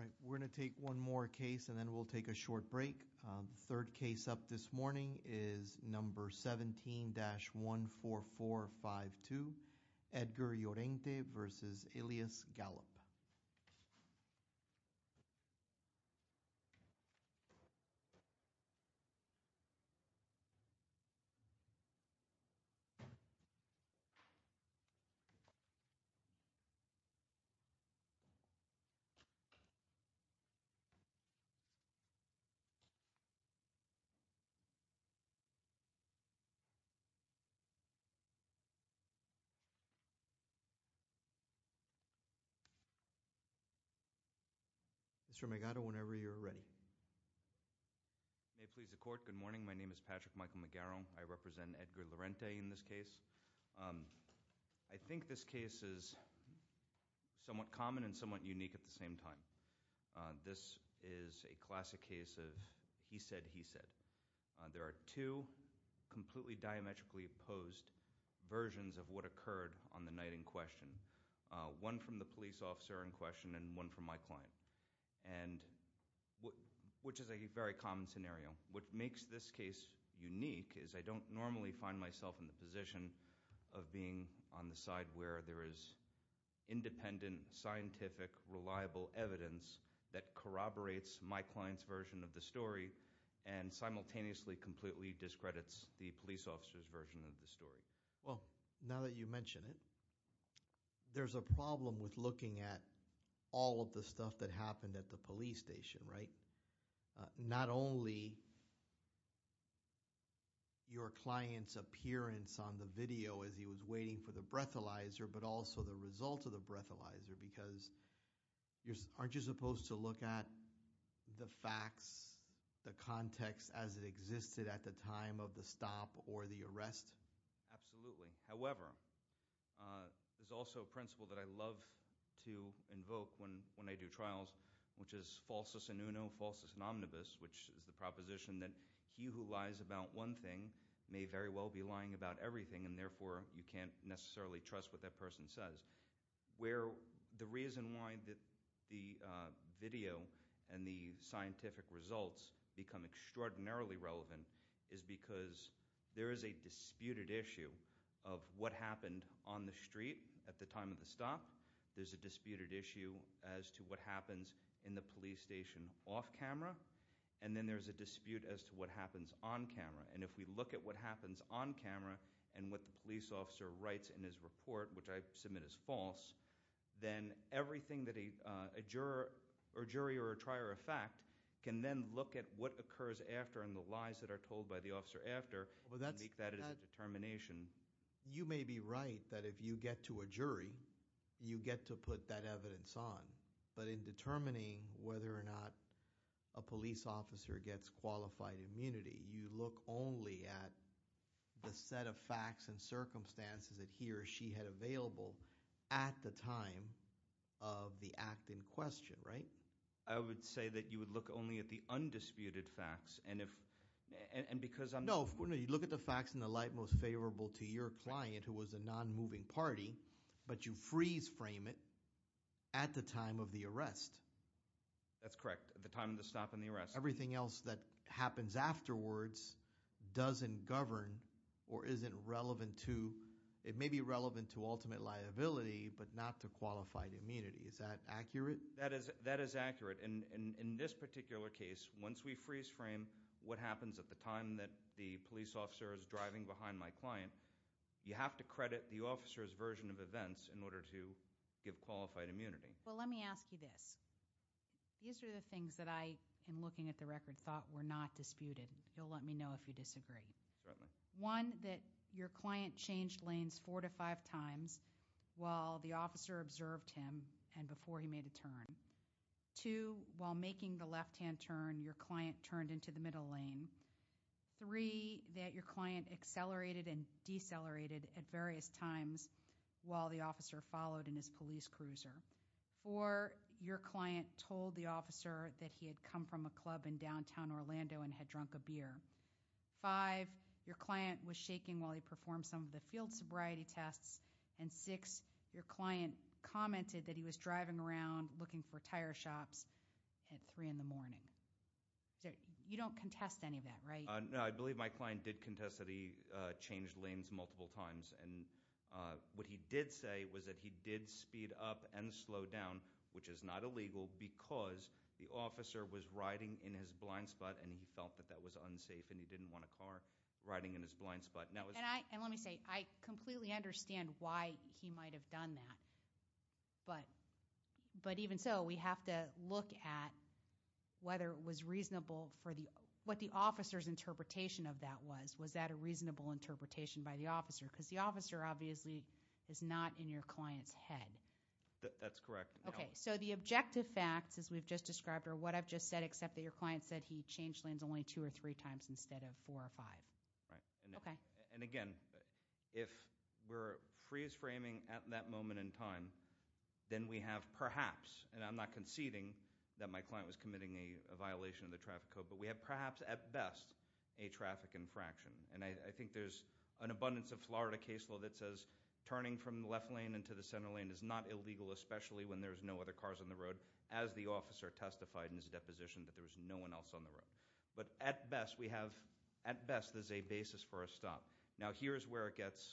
All right, we're going to take one more case and then we'll take a short break. The third case up this morning is number 17-14452, Edgar Llorente v. Elias Gallup Mr. Magado, whenever you're ready. May it please the court, good morning. My name is Patrick Michael Magaro. I represent Edgar Llorente in this case. I think this case is somewhat common and somewhat unique at the same time. This is a classic case of he said, he said. There are two completely diametrically opposed versions of what occurred on the night in question. One from the police officer in question and one from my client, which is a very common scenario. What makes this case unique is I don't normally find myself in the position of being on the side where there is independent, scientific, reliable evidence that corroborates my client's version of the story and simultaneously completely discredits the police officer's version of the story. Well, now that you mention it, there's a problem with looking at all of the stuff that happened at the police station, right? Not only your client's appearance on the video as he was waiting for the breathalyzer, but also the result of the breathalyzer, because aren't you supposed to look at the facts, the context as it existed at the time of the stop or the arrest? Absolutely. However, there's also a principle that I love to invoke when I do trials, which is falsus in uno, falsus in omnibus, which is the proposition that he who lies about one thing may very well be lying about everything, and therefore you can't necessarily trust what that person says. Where the reason why the video and the scientific results become extraordinarily relevant is because there is a disputed issue of what happened on the street at the time of the stop. There's a disputed issue as to what happens in the police station off camera. And then there's a dispute as to what happens on camera. And if we look at what happens on camera and what the police officer writes in his report, which I submit as false, then everything that a jury or a trier of fact can then look at what occurs after and the lies that are told by the officer after and make that as a determination. You may be right that if you get to a jury, you get to put that evidence on. But in determining whether or not a police officer gets qualified immunity, you look only at the set of facts and circumstances that he or she had available at the time of the act in question, right? I would say that you would look only at the undisputed facts, and if, and because I'm- No, you look at the facts in the light most favorable to your client who was a non-moving party, but you freeze frame it at the time of the arrest. That's correct, at the time of the stop and the arrest. Everything else that happens afterwards doesn't govern or isn't relevant to, it may be relevant to ultimate liability, but not to qualified immunity. Is that accurate? That is accurate. In this particular case, once we freeze frame what happens at the time that the police officer is driving behind my client, you have to credit the officer's version of events in order to give qualified immunity. Well, let me ask you this. These are the things that I, in looking at the record, thought were not disputed. You'll let me know if you disagree. Certainly. One, that your client changed lanes four to five times while the officer observed him and before he made a turn. Two, while making the left-hand turn, your client turned into the middle lane. Three, that your client accelerated and decelerated at various times while the officer followed in his police cruiser. Four, your client told the officer that he had come from a club in downtown Orlando and had drunk a beer. Five, your client was shaking while he performed some of the field sobriety tests. And six, your client commented that he was driving around looking for tire shops at three in the morning. You don't contest any of that, right? No, I believe my client did contest that he changed lanes multiple times. And what he did say was that he did speed up and slow down, which is not illegal because the officer was riding in his blind spot and he felt that that was unsafe and he didn't want a car riding in his blind spot. And let me say, I completely understand why he might have done that. But even so, we have to look at whether it was reasonable for what the officer's interpretation of that was, was that a reasonable interpretation by the officer? because the officer obviously is not in your client's head. That's correct. Okay, so the objective facts, as we've just described, are what I've just said, except that your client said he changed lanes only two or three times instead of four or five. Right, and again, if we're freeze framing at that moment in time, then we have perhaps, and I'm not conceding that my client was committing a violation of the traffic code. But we have perhaps, at best, a traffic infraction. And I think there's an abundance of Florida case law that says turning from the left lane into the center lane is not illegal, especially when there's no other cars on the road, as the officer testified in his deposition that there was no one else on the road. But at best, we have, at best, there's a basis for a stop. Now here's where it gets,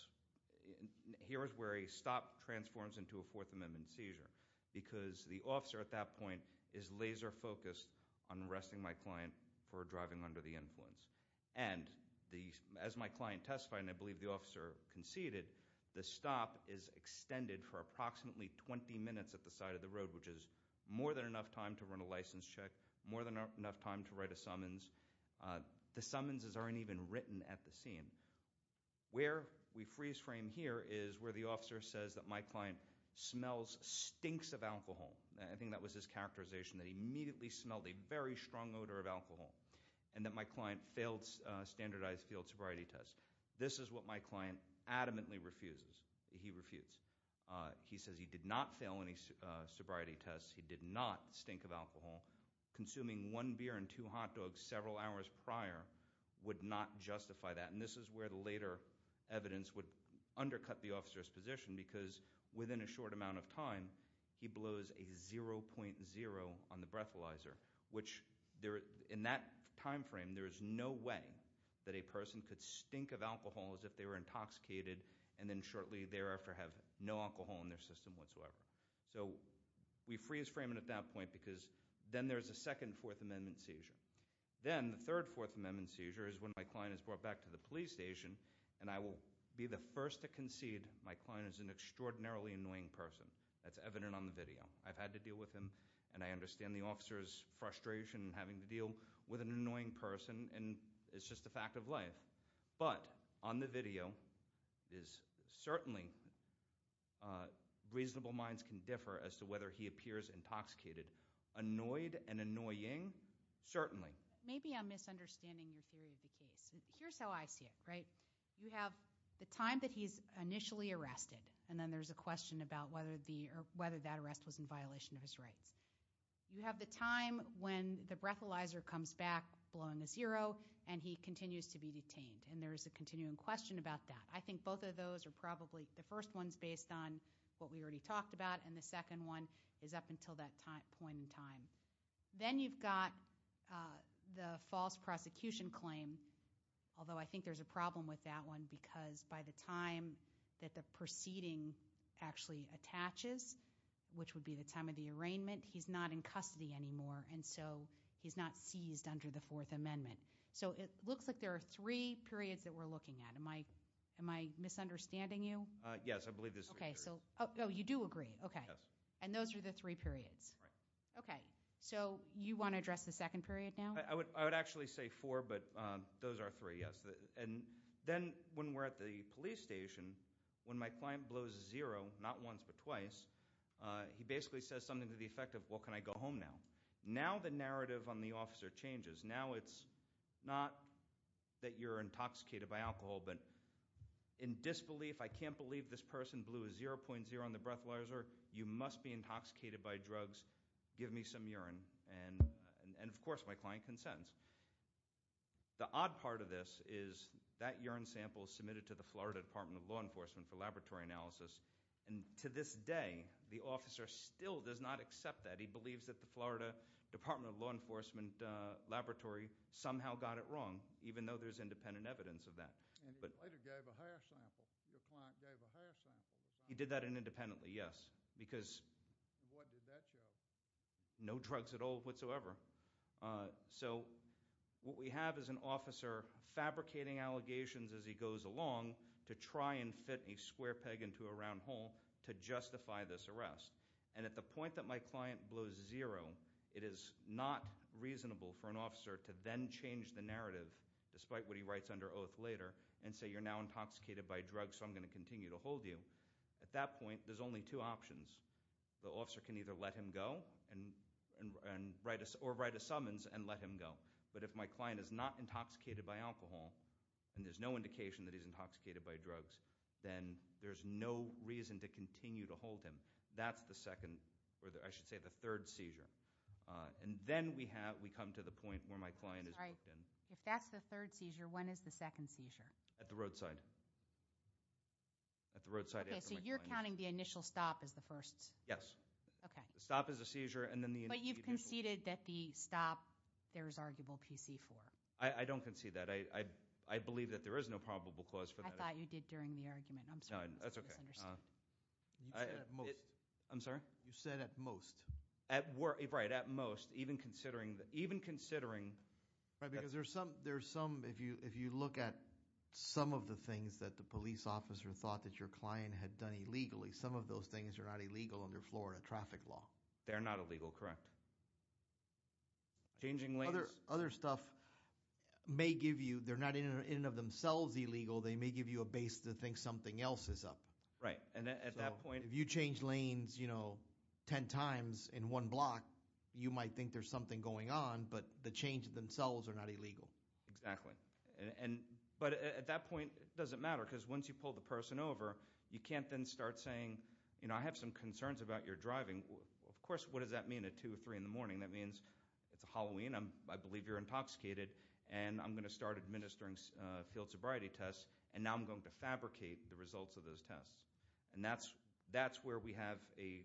here's where a stop transforms into a Fourth Amendment seizure. Because the officer at that point is laser focused on arresting my client for driving under the influence. And as my client testified, and I believe the officer conceded, the stop is extended for approximately 20 minutes at the side of the road, which is more than enough time to run a license check, more than enough time to write a summons, the summons aren't even written at the scene. Where we freeze frame here is where the officer says that my client smells stinks of alcohol. I think that was his characterization, that he immediately smelled a very strong odor of alcohol. And that my client failed standardized field sobriety tests. This is what my client adamantly refuses, he refutes. He says he did not fail any sobriety tests. He did not stink of alcohol. Consuming one beer and two hot dogs several hours prior would not justify that. And this is where the later evidence would undercut the officer's position because within a short amount of time, he blows a 0.0 on the breathalyzer. Which in that time frame, there is no way that a person could stink of alcohol as if they were intoxicated. And then shortly thereafter have no alcohol in their system whatsoever. So we freeze frame it at that point because then there's a second Fourth Amendment seizure. Then the third Fourth Amendment seizure is when my client is brought back to the police station and I will be the first to concede my client is an extraordinarily annoying person. That's evident on the video. I've had to deal with him and I understand the officer's frustration in having to deal with an annoying person and it's just a fact of life. But on the video is certainly reasonable minds can differ as to whether he appears intoxicated. Annoyed and annoying, certainly. Maybe I'm misunderstanding your theory of the case. Here's how I see it, right? You have the time that he's initially arrested and then there's a question about whether that arrest was in violation of his rights. You have the time when the breathalyzer comes back blowing a zero and he continues to be detained. And there is a continuing question about that. I think both of those are probably, the first one's based on what we already talked about and the second one is up until that point in time. Then you've got the false prosecution claim, although I think there's a problem with that one. Because by the time that the proceeding actually attaches, which would be the time of the arraignment, he's not in custody anymore and so he's not seized under the Fourth Amendment. So it looks like there are three periods that we're looking at. Am I misunderstanding you? Yes, I believe there's three periods. You do agree, okay. Yes. And those are the three periods? Right. Okay, so you want to address the second period now? I would actually say four, but those are three, yes. And then when we're at the police station, when my client blows zero, not once but twice. He basically says something to the effect of, well, can I go home now? Now the narrative on the officer changes. Now it's not that you're intoxicated by alcohol, but in disbelief, I can't believe this person blew a 0.0 on the breathalyzer. You must be intoxicated by drugs. Give me some urine. And of course, my client consents. The odd part of this is that urine sample is submitted to the Florida Department of Law Enforcement for laboratory analysis. And to this day, the officer still does not accept that. He believes that the Florida Department of Law Enforcement laboratory somehow got it wrong, even though there's independent evidence of that. And he later gave a hair sample. Your client gave a hair sample. He did that independently, yes. Because- What did that show? No drugs at all whatsoever. So what we have is an officer fabricating allegations as he goes along to try and fit a square peg into a round hole to justify this arrest. And at the point that my client blows zero, it is not reasonable for an officer to then change the narrative, despite what he writes under oath later, and say you're now intoxicated by drugs, so I'm going to continue to hold you. At that point, there's only two options. The officer can either let him go or write a summons and let him go. But if my client is not intoxicated by alcohol, and there's no indication that he's intoxicated by drugs, then there's no reason to continue to hold him. That's the second, or I should say, the third seizure. And then we come to the point where my client is booked in. If that's the third seizure, when is the second seizure? At the roadside. At the roadside- Okay, so you're counting the initial stop as the first? Yes. Okay. Stop is a seizure, and then the initial- But you've conceded that the stop, there's arguable PC for. I don't concede that. I believe that there is no probable cause for that. I thought you did during the argument. I'm sorry. That's okay. You said at most. I'm sorry? You said at most. At, right, at most. Even considering, even considering. Right, because there's some, if you look at some of the things that the police officer thought that your client had done illegally, some of those things are not illegal under Florida traffic law. They're not illegal, correct. Changing lanes. Other stuff may give you, they're not in and of themselves illegal, they may give you a base to think something else is up. Right, and at that point- If you change lanes ten times in one block, you might think there's something going on, but the change themselves are not illegal. Exactly, but at that point, it doesn't matter, because once you pull the person over, you can't then start saying, I have some concerns about your driving. Of course, what does that mean at two or three in the morning? That means it's Halloween, I believe you're intoxicated, and I'm going to start administering field sobriety tests. And now I'm going to fabricate the results of those tests. And that's where we have a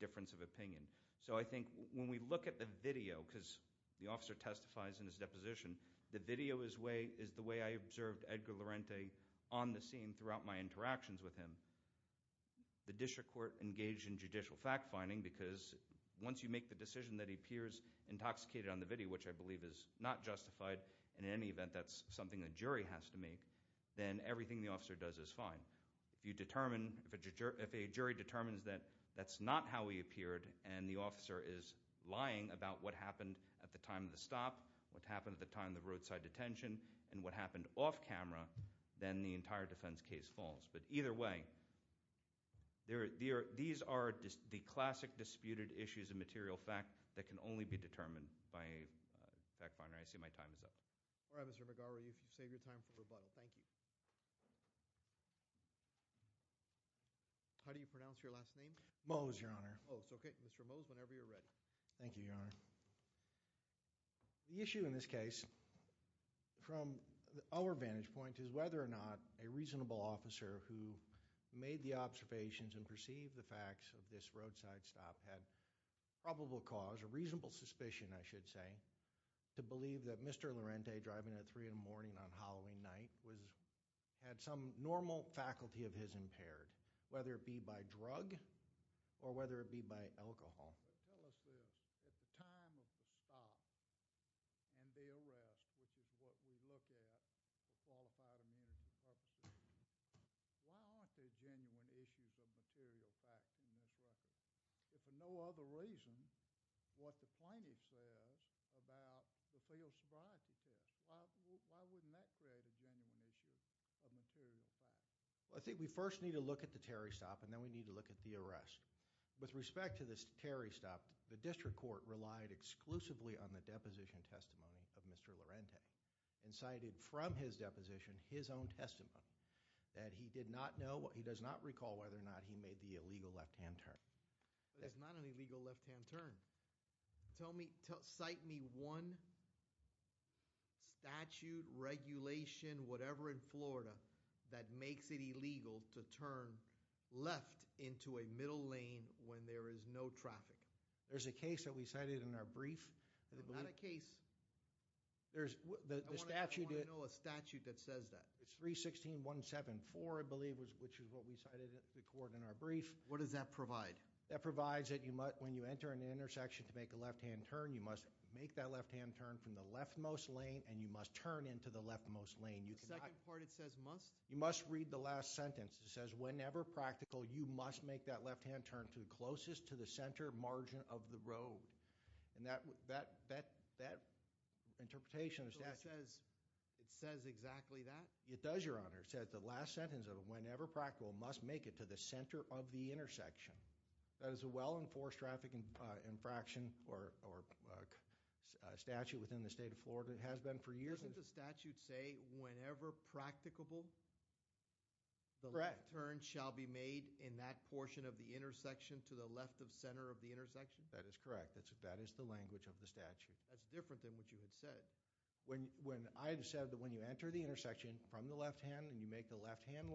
difference of opinion. So I think when we look at the video, because the officer testifies in his deposition, the video is the way I observed Edgar Lorente on the scene throughout my interactions with him. The district court engaged in judicial fact finding, because once you make the decision that he appears intoxicated on the video, which I believe is not justified, in any event that's something a jury has to make, then everything the officer does is fine. If a jury determines that that's not how he appeared, and the officer is lying about what happened at the time of the stop, what happened at the time of the roadside detention, and what happened off camera, then the entire defense case falls. But either way, these are the classic disputed issues and material fact that can only be determined by a fact finder. I see my time is up. All right, Mr. McGarvey, if you save your time for rebuttal, thank you. How do you pronounce your last name? Mose, Your Honor. Mose, okay. Mr. Mose, whenever you're ready. Thank you, Your Honor. The issue in this case, from our vantage point, is whether or not a reasonable officer who made the observations and perceived the facts of this roadside stop had probable cause, was a reasonable suspicion, I should say, to believe that Mr. Laurenti, driving at 3 in the morning on Halloween night, had some normal faculty of his impaired. Whether it be by drug or whether it be by alcohol. Tell us this, at the time of the stop and the arrest, which is what we look at for qualified immunity purposes, why aren't there genuine issues of material facts in this record? If for no other reason, what the plaintiff says about the failed sobriety test, why wouldn't that create a genuine issue of material facts? I think we first need to look at the Terry stop and then we need to look at the arrest. With respect to this Terry stop, the district court relied exclusively on the deposition testimony of Mr. Laurenti and cited from his deposition his own testimony. That he did not know, he does not recall whether or not he had an illegal left-hand turn. Tell me, cite me one statute, regulation, whatever in Florida that makes it illegal to turn left into a middle lane when there is no traffic. There's a case that we cited in our brief. Not a case. I want to know a statute that says that. It's 316174, I believe, which is what we cited in the court in our brief. What does that provide? That provides that when you enter an intersection to make a left-hand turn, you must make that left-hand turn from the left-most lane and you must turn into the left-most lane. The second part, it says must? You must read the last sentence. It says, whenever practical, you must make that left-hand turn to the closest to the center margin of the road. And that interpretation of the statute- It says exactly that? It does, your honor. It says the last sentence of whenever practical must make it to the center of the intersection. That is a well-enforced traffic infraction or statute within the state of Florida. It has been for years. Doesn't the statute say, whenever practicable, the left turn shall be made in that portion of the intersection to the left of center of the intersection? That is correct. That is the language of the statute. That's different than what you had said. When I've said that when you enter the intersection from the left-hand and you make the left-hand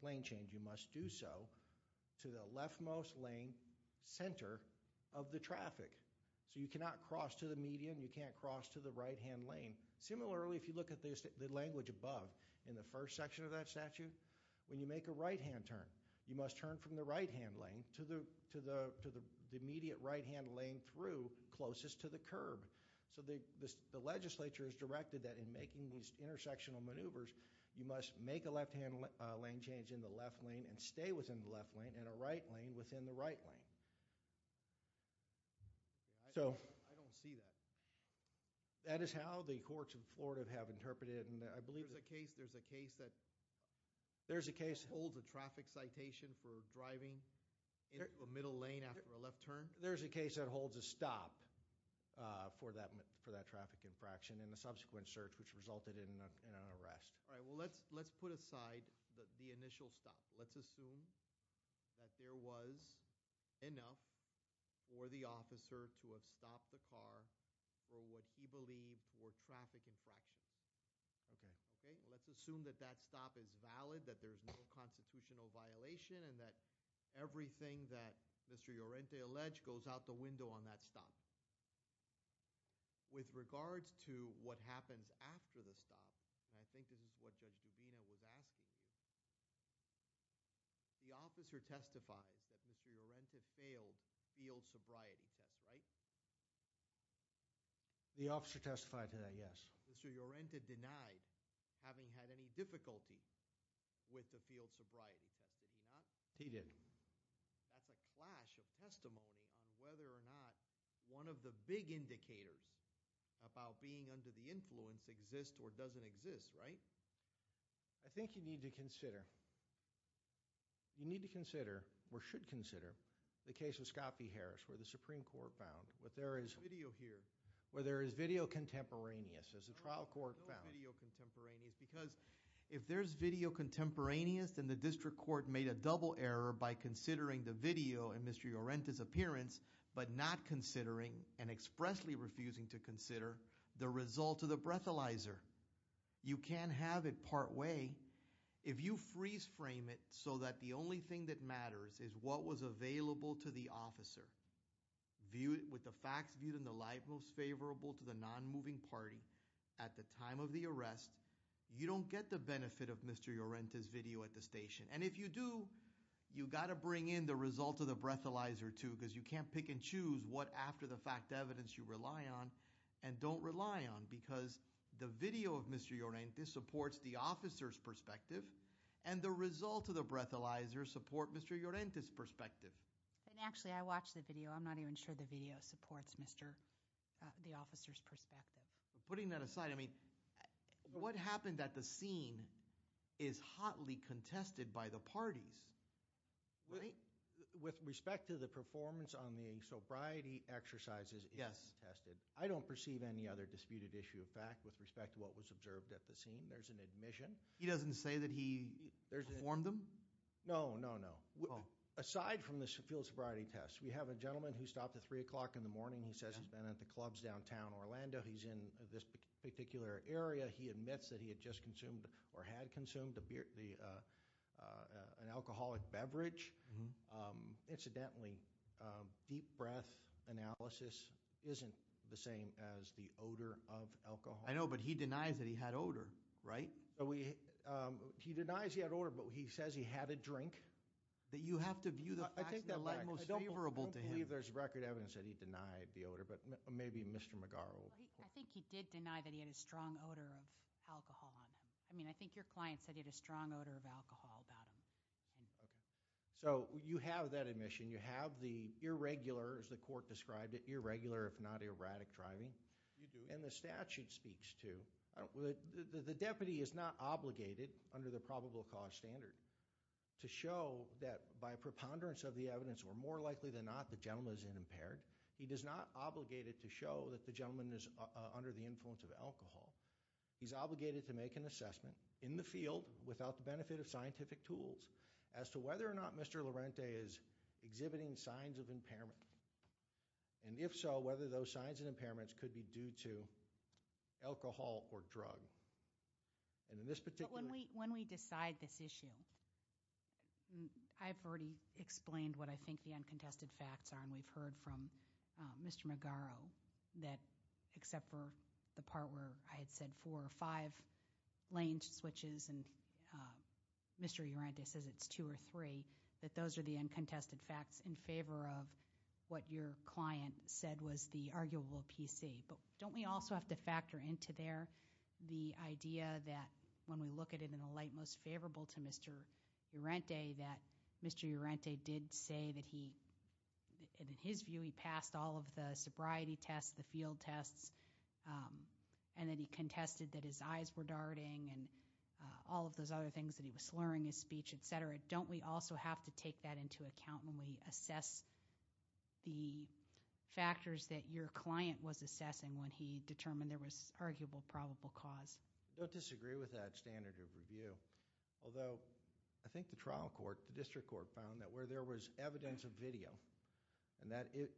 lane change, you must do so to the left-most lane center of the traffic. So you cannot cross to the median, you can't cross to the right-hand lane. Similarly, if you look at the language above, in the first section of that statute, when you make a right-hand turn, you must turn from the right-hand lane to the immediate right-hand lane through closest to the curb. So the legislature has directed that in making these intersectional maneuvers, you must make a left-hand lane change in the left lane and stay within the left lane and a right lane within the right lane. So- I don't see that. That is how the courts of Florida have interpreted it and I believe- There's a case that- There's a case- Holds a traffic citation for driving in the middle lane after a left turn? There's a case that holds a stop for that traffic infraction in the subsequent search which resulted in an arrest. All right, well let's put aside the initial stop. Let's assume that there was enough for the officer to have stopped the car for what he believed were traffic infractions. Okay. Okay, let's assume that that stop is valid, that there's no constitutional violation and that everything that Mr. Llorente alleged goes out the window on that stop. With regards to what happens after the stop, and I think this is what Judge Duvina was asking, the officer testifies that Mr. Llorente failed field sobriety test, right? The officer testified to that, yes. Mr. Llorente denied having had any difficulty with the field sobriety test. He did. That's a clash of testimony on whether or not one of the big indicators about being under the influence exists or doesn't exist, right? I think you need to consider, or should consider, the case of Scott v. Harris where the Supreme Court found, where there is- There's no video here. Where there is video contemporaneous, as the trial court found. No video contemporaneous, because if there's video contemporaneous, then the district court made a double error by considering the video in Mr. Llorente's appearance, but not considering, and expressly refusing to consider, the result of the breathalyzer. You can't have it part way if you freeze frame it so that the only thing that matters is what was available to the officer. Viewed with the facts viewed in the light most favorable to the non-moving party at the time of the arrest, you don't get the benefit of Mr. Llorente's video at the station. And if you do, you gotta bring in the result of the breathalyzer too, because you can't pick and choose what after the fact evidence you rely on and don't rely on. Because the video of Mr. Llorente supports the officer's perspective, and the result of the breathalyzer support Mr. Llorente's perspective. And actually, I watched the video. I'm not even sure the video supports the officer's perspective. Putting that aside, I mean, what happened at the scene is hotly contested by the parties, right? With respect to the performance on the sobriety exercises, it's contested. I don't perceive any other disputed issue of fact with respect to what was observed at the scene. There's an admission. He doesn't say that he performed them? No, no, no. Aside from the field sobriety test, we have a gentleman who stopped at 3 o'clock in the morning. He says he's been at the clubs downtown Orlando. He's in this particular area. He admits that he had just consumed or had consumed an alcoholic beverage. Incidentally, deep breath analysis isn't the same as the odor of alcohol. I know, but he denies that he had odor, right? He denies he had odor, but he says he had a drink. That you have to view the facts in the light most favorable to him. I believe there's record evidence that he denied the odor, but maybe Mr. McGarrel. I think he did deny that he had a strong odor of alcohol on him. I mean, I think your client said he had a strong odor of alcohol about him. Okay. So you have that admission. You have the irregular, as the court described it, irregular if not erratic driving. You do. And the statute speaks to, the deputy is not obligated under the probable cause standard to show that by preponderance of the evidence or more likely than not the gentleman is unimpaired. He does not obligate it to show that the gentleman is under the influence of alcohol. He's obligated to make an assessment in the field without the benefit of scientific tools as to whether or not Mr. Lorente is exhibiting signs of impairment. And if so, whether those signs of impairments could be due to alcohol or drug. And in this particular. When we decide this issue, I've already explained what I think the uncontested facts are and we've heard from Mr. McGarrel that except for the part where I had said four or five lane switches and Mr. Lorente says it's two or three, that those are the uncontested facts in favor of what your client said was the arguable PC. But don't we also have to factor into there the idea that when we look at it in a light most favorable to Mr. Lorente that Mr. Lorente did say that he, in his view he passed all of the sobriety tests, the field tests, and that he contested that his eyes were darting and all of those other things that he was slurring his speech, et cetera. Don't we also have to take that into account when we assess the factors that your client was assessing when he determined there was arguable probable cause? I don't disagree with that standard of review. Although, I think the trial court, the district court found that where there was evidence of video and that video.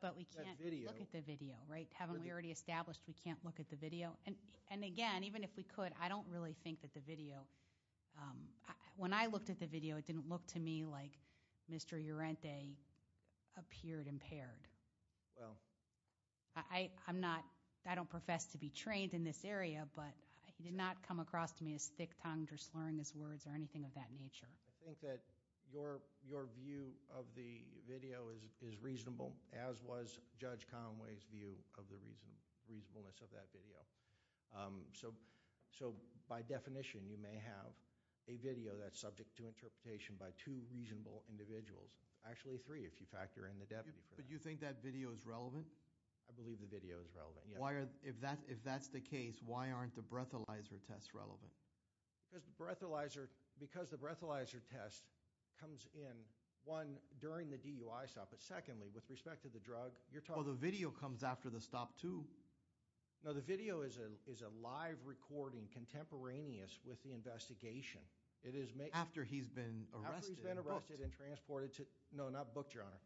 But we can't look at the video, right? Haven't we already established we can't look at the video? And again, even if we could, I don't really think that the video. When I looked at the video, it didn't look to me like Mr. Lorente appeared impaired. I don't profess to be trained in this area, but he did not come across to me as thick-tongued or slurring his words or anything of that nature. I think that your view of the video is reasonable, as was Judge Conway's view of the reasonableness of that video. So, by definition, you may have a video that's subject to interpretation by two reasonable individuals. Actually three, if you factor in the deputy for that. But you think that video is relevant? I believe the video is relevant, yes. If that's the case, why aren't the breathalyzer tests relevant? Because the breathalyzer test comes in, one, during the DUI stop. But secondly, with respect to the drug, you're talking- Well, the video comes after the stop, too. No, the video is a live recording contemporaneous with the investigation. It is- After he's been arrested. After he's been arrested and transported to, no, not booked, Your Honor.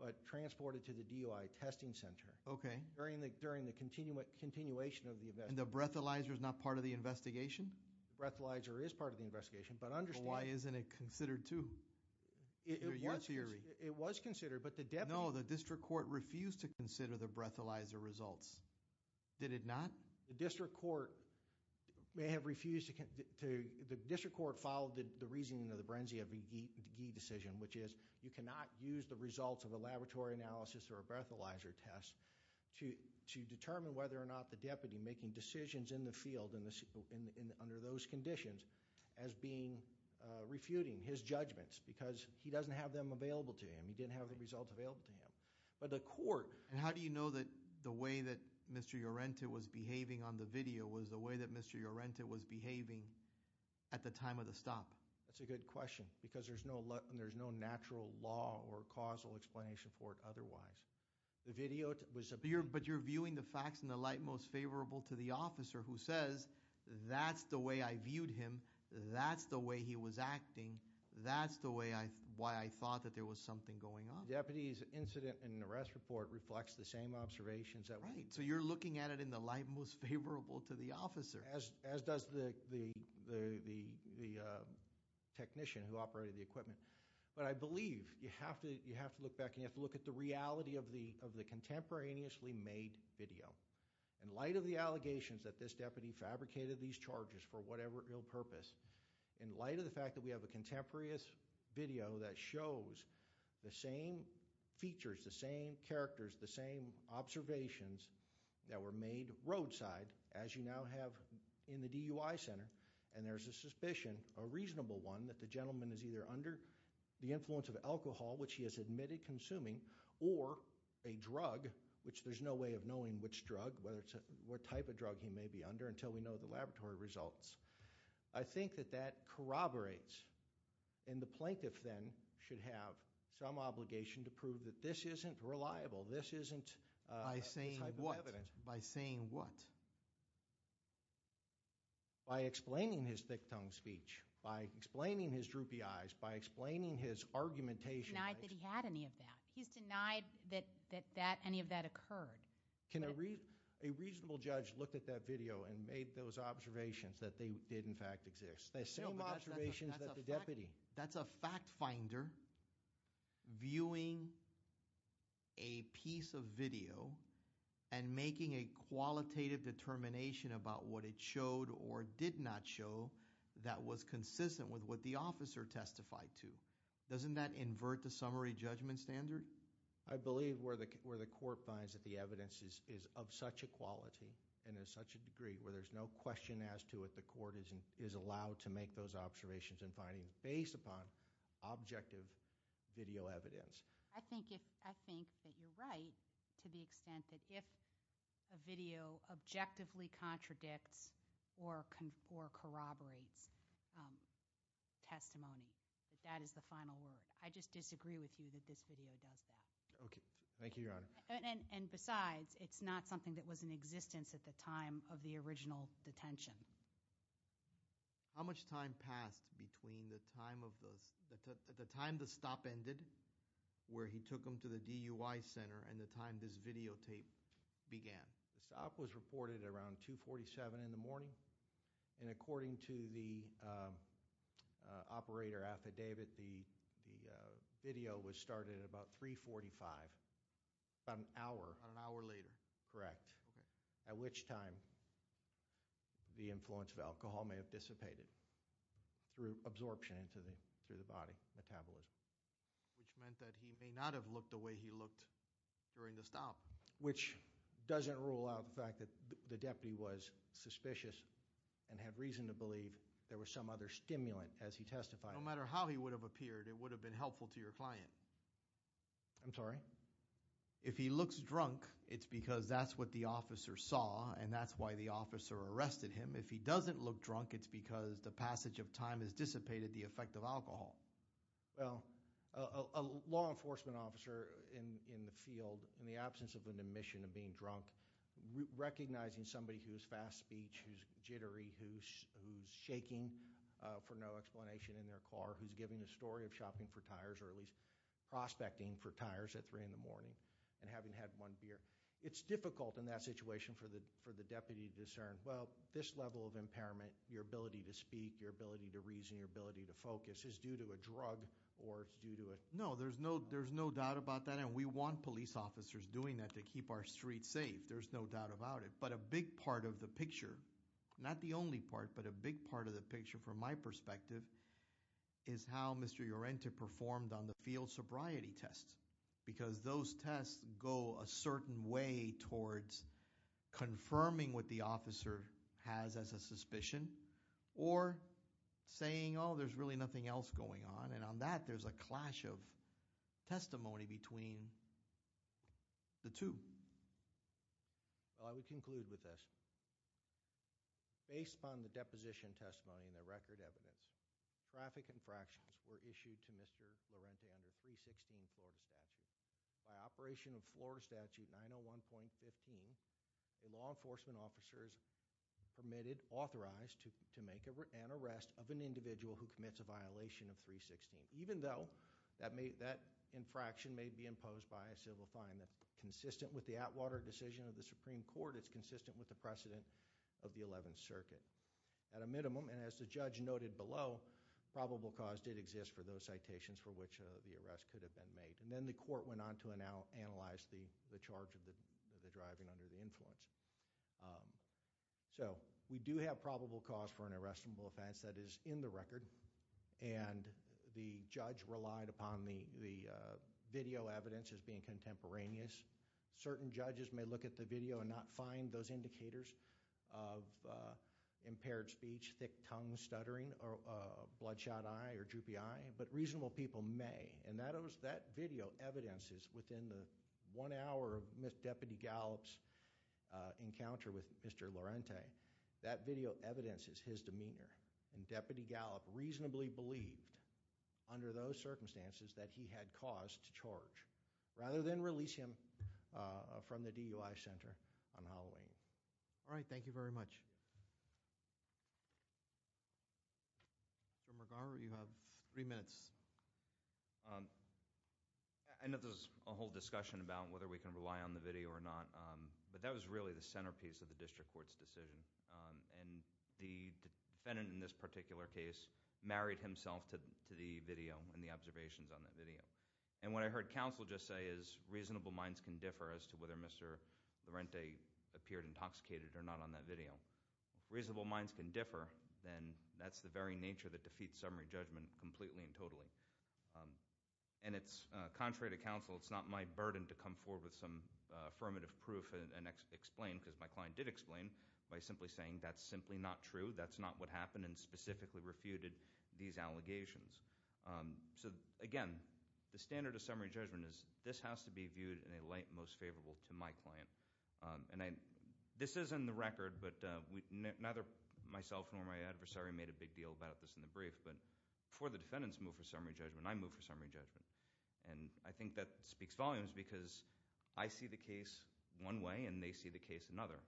But transported to the DUI testing center. Okay. During the continuation of the investigation. And the breathalyzer is not part of the investigation? The breathalyzer is part of the investigation. But understand- But why isn't it considered, too? It was considered, but the deputy- No, the district court refused to consider the breathalyzer results. Did it not? The district court may have refused to- The district court followed the reasoning of the Berenzia v. Ghee decision, which is you cannot use the results of a laboratory analysis or a breathalyzer test to determine whether or not the deputy making decisions in the field under those conditions as being refuting his judgments. Because he doesn't have them available to him. He didn't have the results available to him. But the court- And how do you know that the way that Mr. Llorente was behaving on the video was the way that Mr. Llorente was behaving at the time of the stop? That's a good question. Because there's no natural law or causal explanation for it otherwise. The video was- But you're viewing the facts in the light most favorable to the officer who says, that's the way I viewed him. That's the way he was acting. That's the way I, why I thought that there was something going on. Deputy's incident and arrest report reflects the same observations that- Right, so you're looking at it in the light most favorable to the officer. As does the technician who operated the equipment. But I believe you have to look back and you have to look at the reality of the contemporaneously made video. In light of the allegations that this deputy fabricated these charges for whatever real purpose. In light of the fact that we have a contemporaneous video that shows the same features, the same characters, the same observations that were made roadside as you now have in the DUI center. And there's a suspicion, a reasonable one, that the gentleman is either under the influence of alcohol, which he has admitted consuming, or a drug, which there's no way of knowing which drug, what type of drug he may be under until we know the laboratory results. I think that that corroborates. And the plaintiff then should have some obligation to prove that this isn't reliable. This isn't- By saying what? By saying what? By explaining his thick tongue speech, by explaining his droopy eyes, by explaining his argumentation. Denied that he had any of that. He's denied that any of that occurred. Can a reasonable judge look at that video and make those observations that they did in fact exist? The same observations that the deputy- That's a fact finder viewing a piece of video and making a qualitative determination about what it showed or did not show that was consistent with what the officer testified to. Doesn't that invert the summary judgment standard? I believe where the court finds that the evidence is of such a quality and is such a degree where there's no question as to what the court is allowed to make those observations and findings based upon objective video evidence. I think that you're right to the extent that if a video objectively contradicts or corroborates testimony, that that is the final word. I just disagree with you that this video does that. Okay. Thank you, Your Honor. And besides, it's not something that was in existence at the time of the original detention. How much time passed between the time of the, at the time the stop ended, where he took him to the DUI center, and the time this videotape began? The stop was reported around 2.47 in the morning. And according to the operator affidavit, the video was started at about 3.45, about an hour. About an hour later. Correct. At which time the influence of alcohol may have dissipated through absorption into the body metabolism. Which meant that he may not have looked the way he looked during the stop. Which doesn't rule out the fact that the deputy was suspicious and had reason to believe there was some other stimulant as he testified. No matter how he would have appeared, it would have been helpful to your client. I'm sorry? If he looks drunk, it's because that's what the officer saw, and that's why the officer arrested him. If he doesn't look drunk, it's because the passage of time has dissipated the effect of alcohol. Well, a law enforcement officer in the field, in the absence of an admission of being drunk, recognizing somebody who's fast speech, who's jittery, who's shaking for no explanation in their car. Who's giving a story of shopping for tires, or at least prospecting for tires at 3 in the morning. And having had one beer. It's difficult in that situation for the deputy to discern, well, this level of impairment, your ability to speak, your ability to reason, your ability to focus is due to a drug or it's due to a- No, there's no doubt about that, and we want police officers doing that to keep our streets safe. There's no doubt about it. But a big part of the picture, not the only part, but a big part of the picture from my perspective is how Mr. Llorente performed on the field sobriety test. Because those tests go a certain way towards confirming what the officer has as a suspicion or saying, there's really nothing else going on. And on that, there's a clash of testimony between the two. Well, I would conclude with this. Based upon the deposition testimony and the record evidence, traffic infractions were issued to Mr. Llorente under 316 Florida statute. By operation of Florida Statute 901.15, a law enforcement officer is permitted, authorized to make an arrest of an individual who commits a violation of 316. Even though that infraction may be imposed by a civil fine that's consistent with the Atwater decision of the Supreme Court, it's consistent with the precedent of the 11th Circuit. At a minimum, and as the judge noted below, probable cause did exist for those citations for which the arrest could have been made. And then the court went on to analyze the charge of the driving under the influence. So, we do have probable cause for an arrestable offense that is in the record. And the judge relied upon the video evidence as being contemporaneous. Certain judges may look at the video and not find those indicators of impaired speech, thick tongue stuttering, or bloodshot eye or droopy eye, but reasonable people may. And that video evidence is within the one hour of Ms. Deputy Gallop's encounter with Mr. Llorente. That video evidence is his demeanor. And Deputy Gallop reasonably believed, under those circumstances, that he had cause to charge. Rather than release him from the DUI Center on Halloween. All right, thank you very much. Mr. McGarver, you have three minutes. I know there's a whole discussion about whether we can rely on the video or not. But that was really the centerpiece of the district court's decision. And the defendant in this particular case married himself to the video and the observations on that video. And what I heard counsel just say is reasonable minds can differ as to whether Mr. Llorente appeared intoxicated or not on that video. Reasonable minds can differ, then that's the very nature that defeats summary judgment completely and totally. And it's contrary to counsel, it's not my burden to come forward with some affirmative proof and explain, because my client did explain, by simply saying that's simply not true. That's not what happened and specifically refuted these allegations. So again, the standard of summary judgment is this has to be viewed in a light most favorable to my client. And this is in the record, but neither myself nor my adversary made a big deal about this in the brief. But before the defendants move for summary judgment, I move for summary judgment. And I think that speaks volumes because I see the case one way and they see the case another.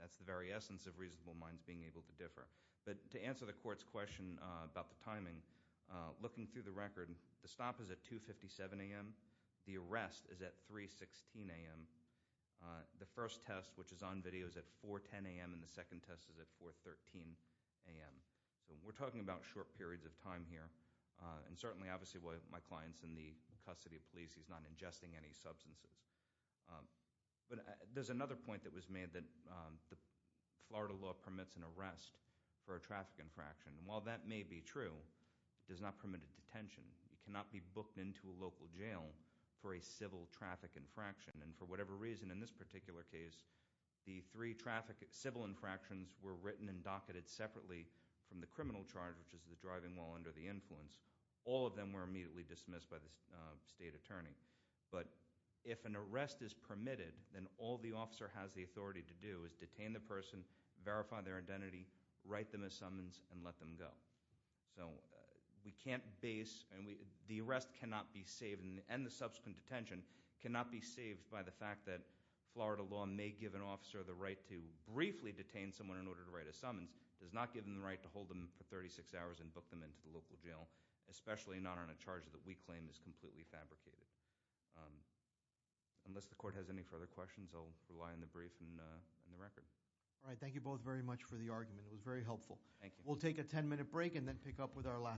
That's the very essence of reasonable minds being able to differ. But to answer the court's question about the timing, looking through the record, the stop is at 2.57 AM. The arrest is at 3.16 AM. The first test, which is on video, is at 4.10 AM, and the second test is at 4.13 AM. So we're talking about short periods of time here. And certainly, obviously, my client's in the custody of police, he's not ingesting any substances. But there's another point that was made that the Florida law permits an arrest for a traffic infraction. And while that may be true, it does not permit a detention. It cannot be booked into a local jail for a civil traffic infraction. And for whatever reason, in this particular case, the three civil infractions were written and docketed separately from the criminal charge, which is the driving while under the influence. All of them were immediately dismissed by the state attorney. But if an arrest is permitted, then all the officer has the authority to do is detain the person, verify their identity, write them a summons, and let them go. So we can't base, and the arrest cannot be saved, and the subsequent detention cannot be saved by the fact that Florida law may give an officer the right to briefly detain someone in order to write a summons. Does not give them the right to hold them for 36 hours and book them into the local jail, especially not on a charge that we claim is completely fabricated. Unless the court has any further questions, I'll rely on the brief and the record. All right, thank you both very much for the argument. It was very helpful. Thank you. We'll take a ten minute break and then pick up with our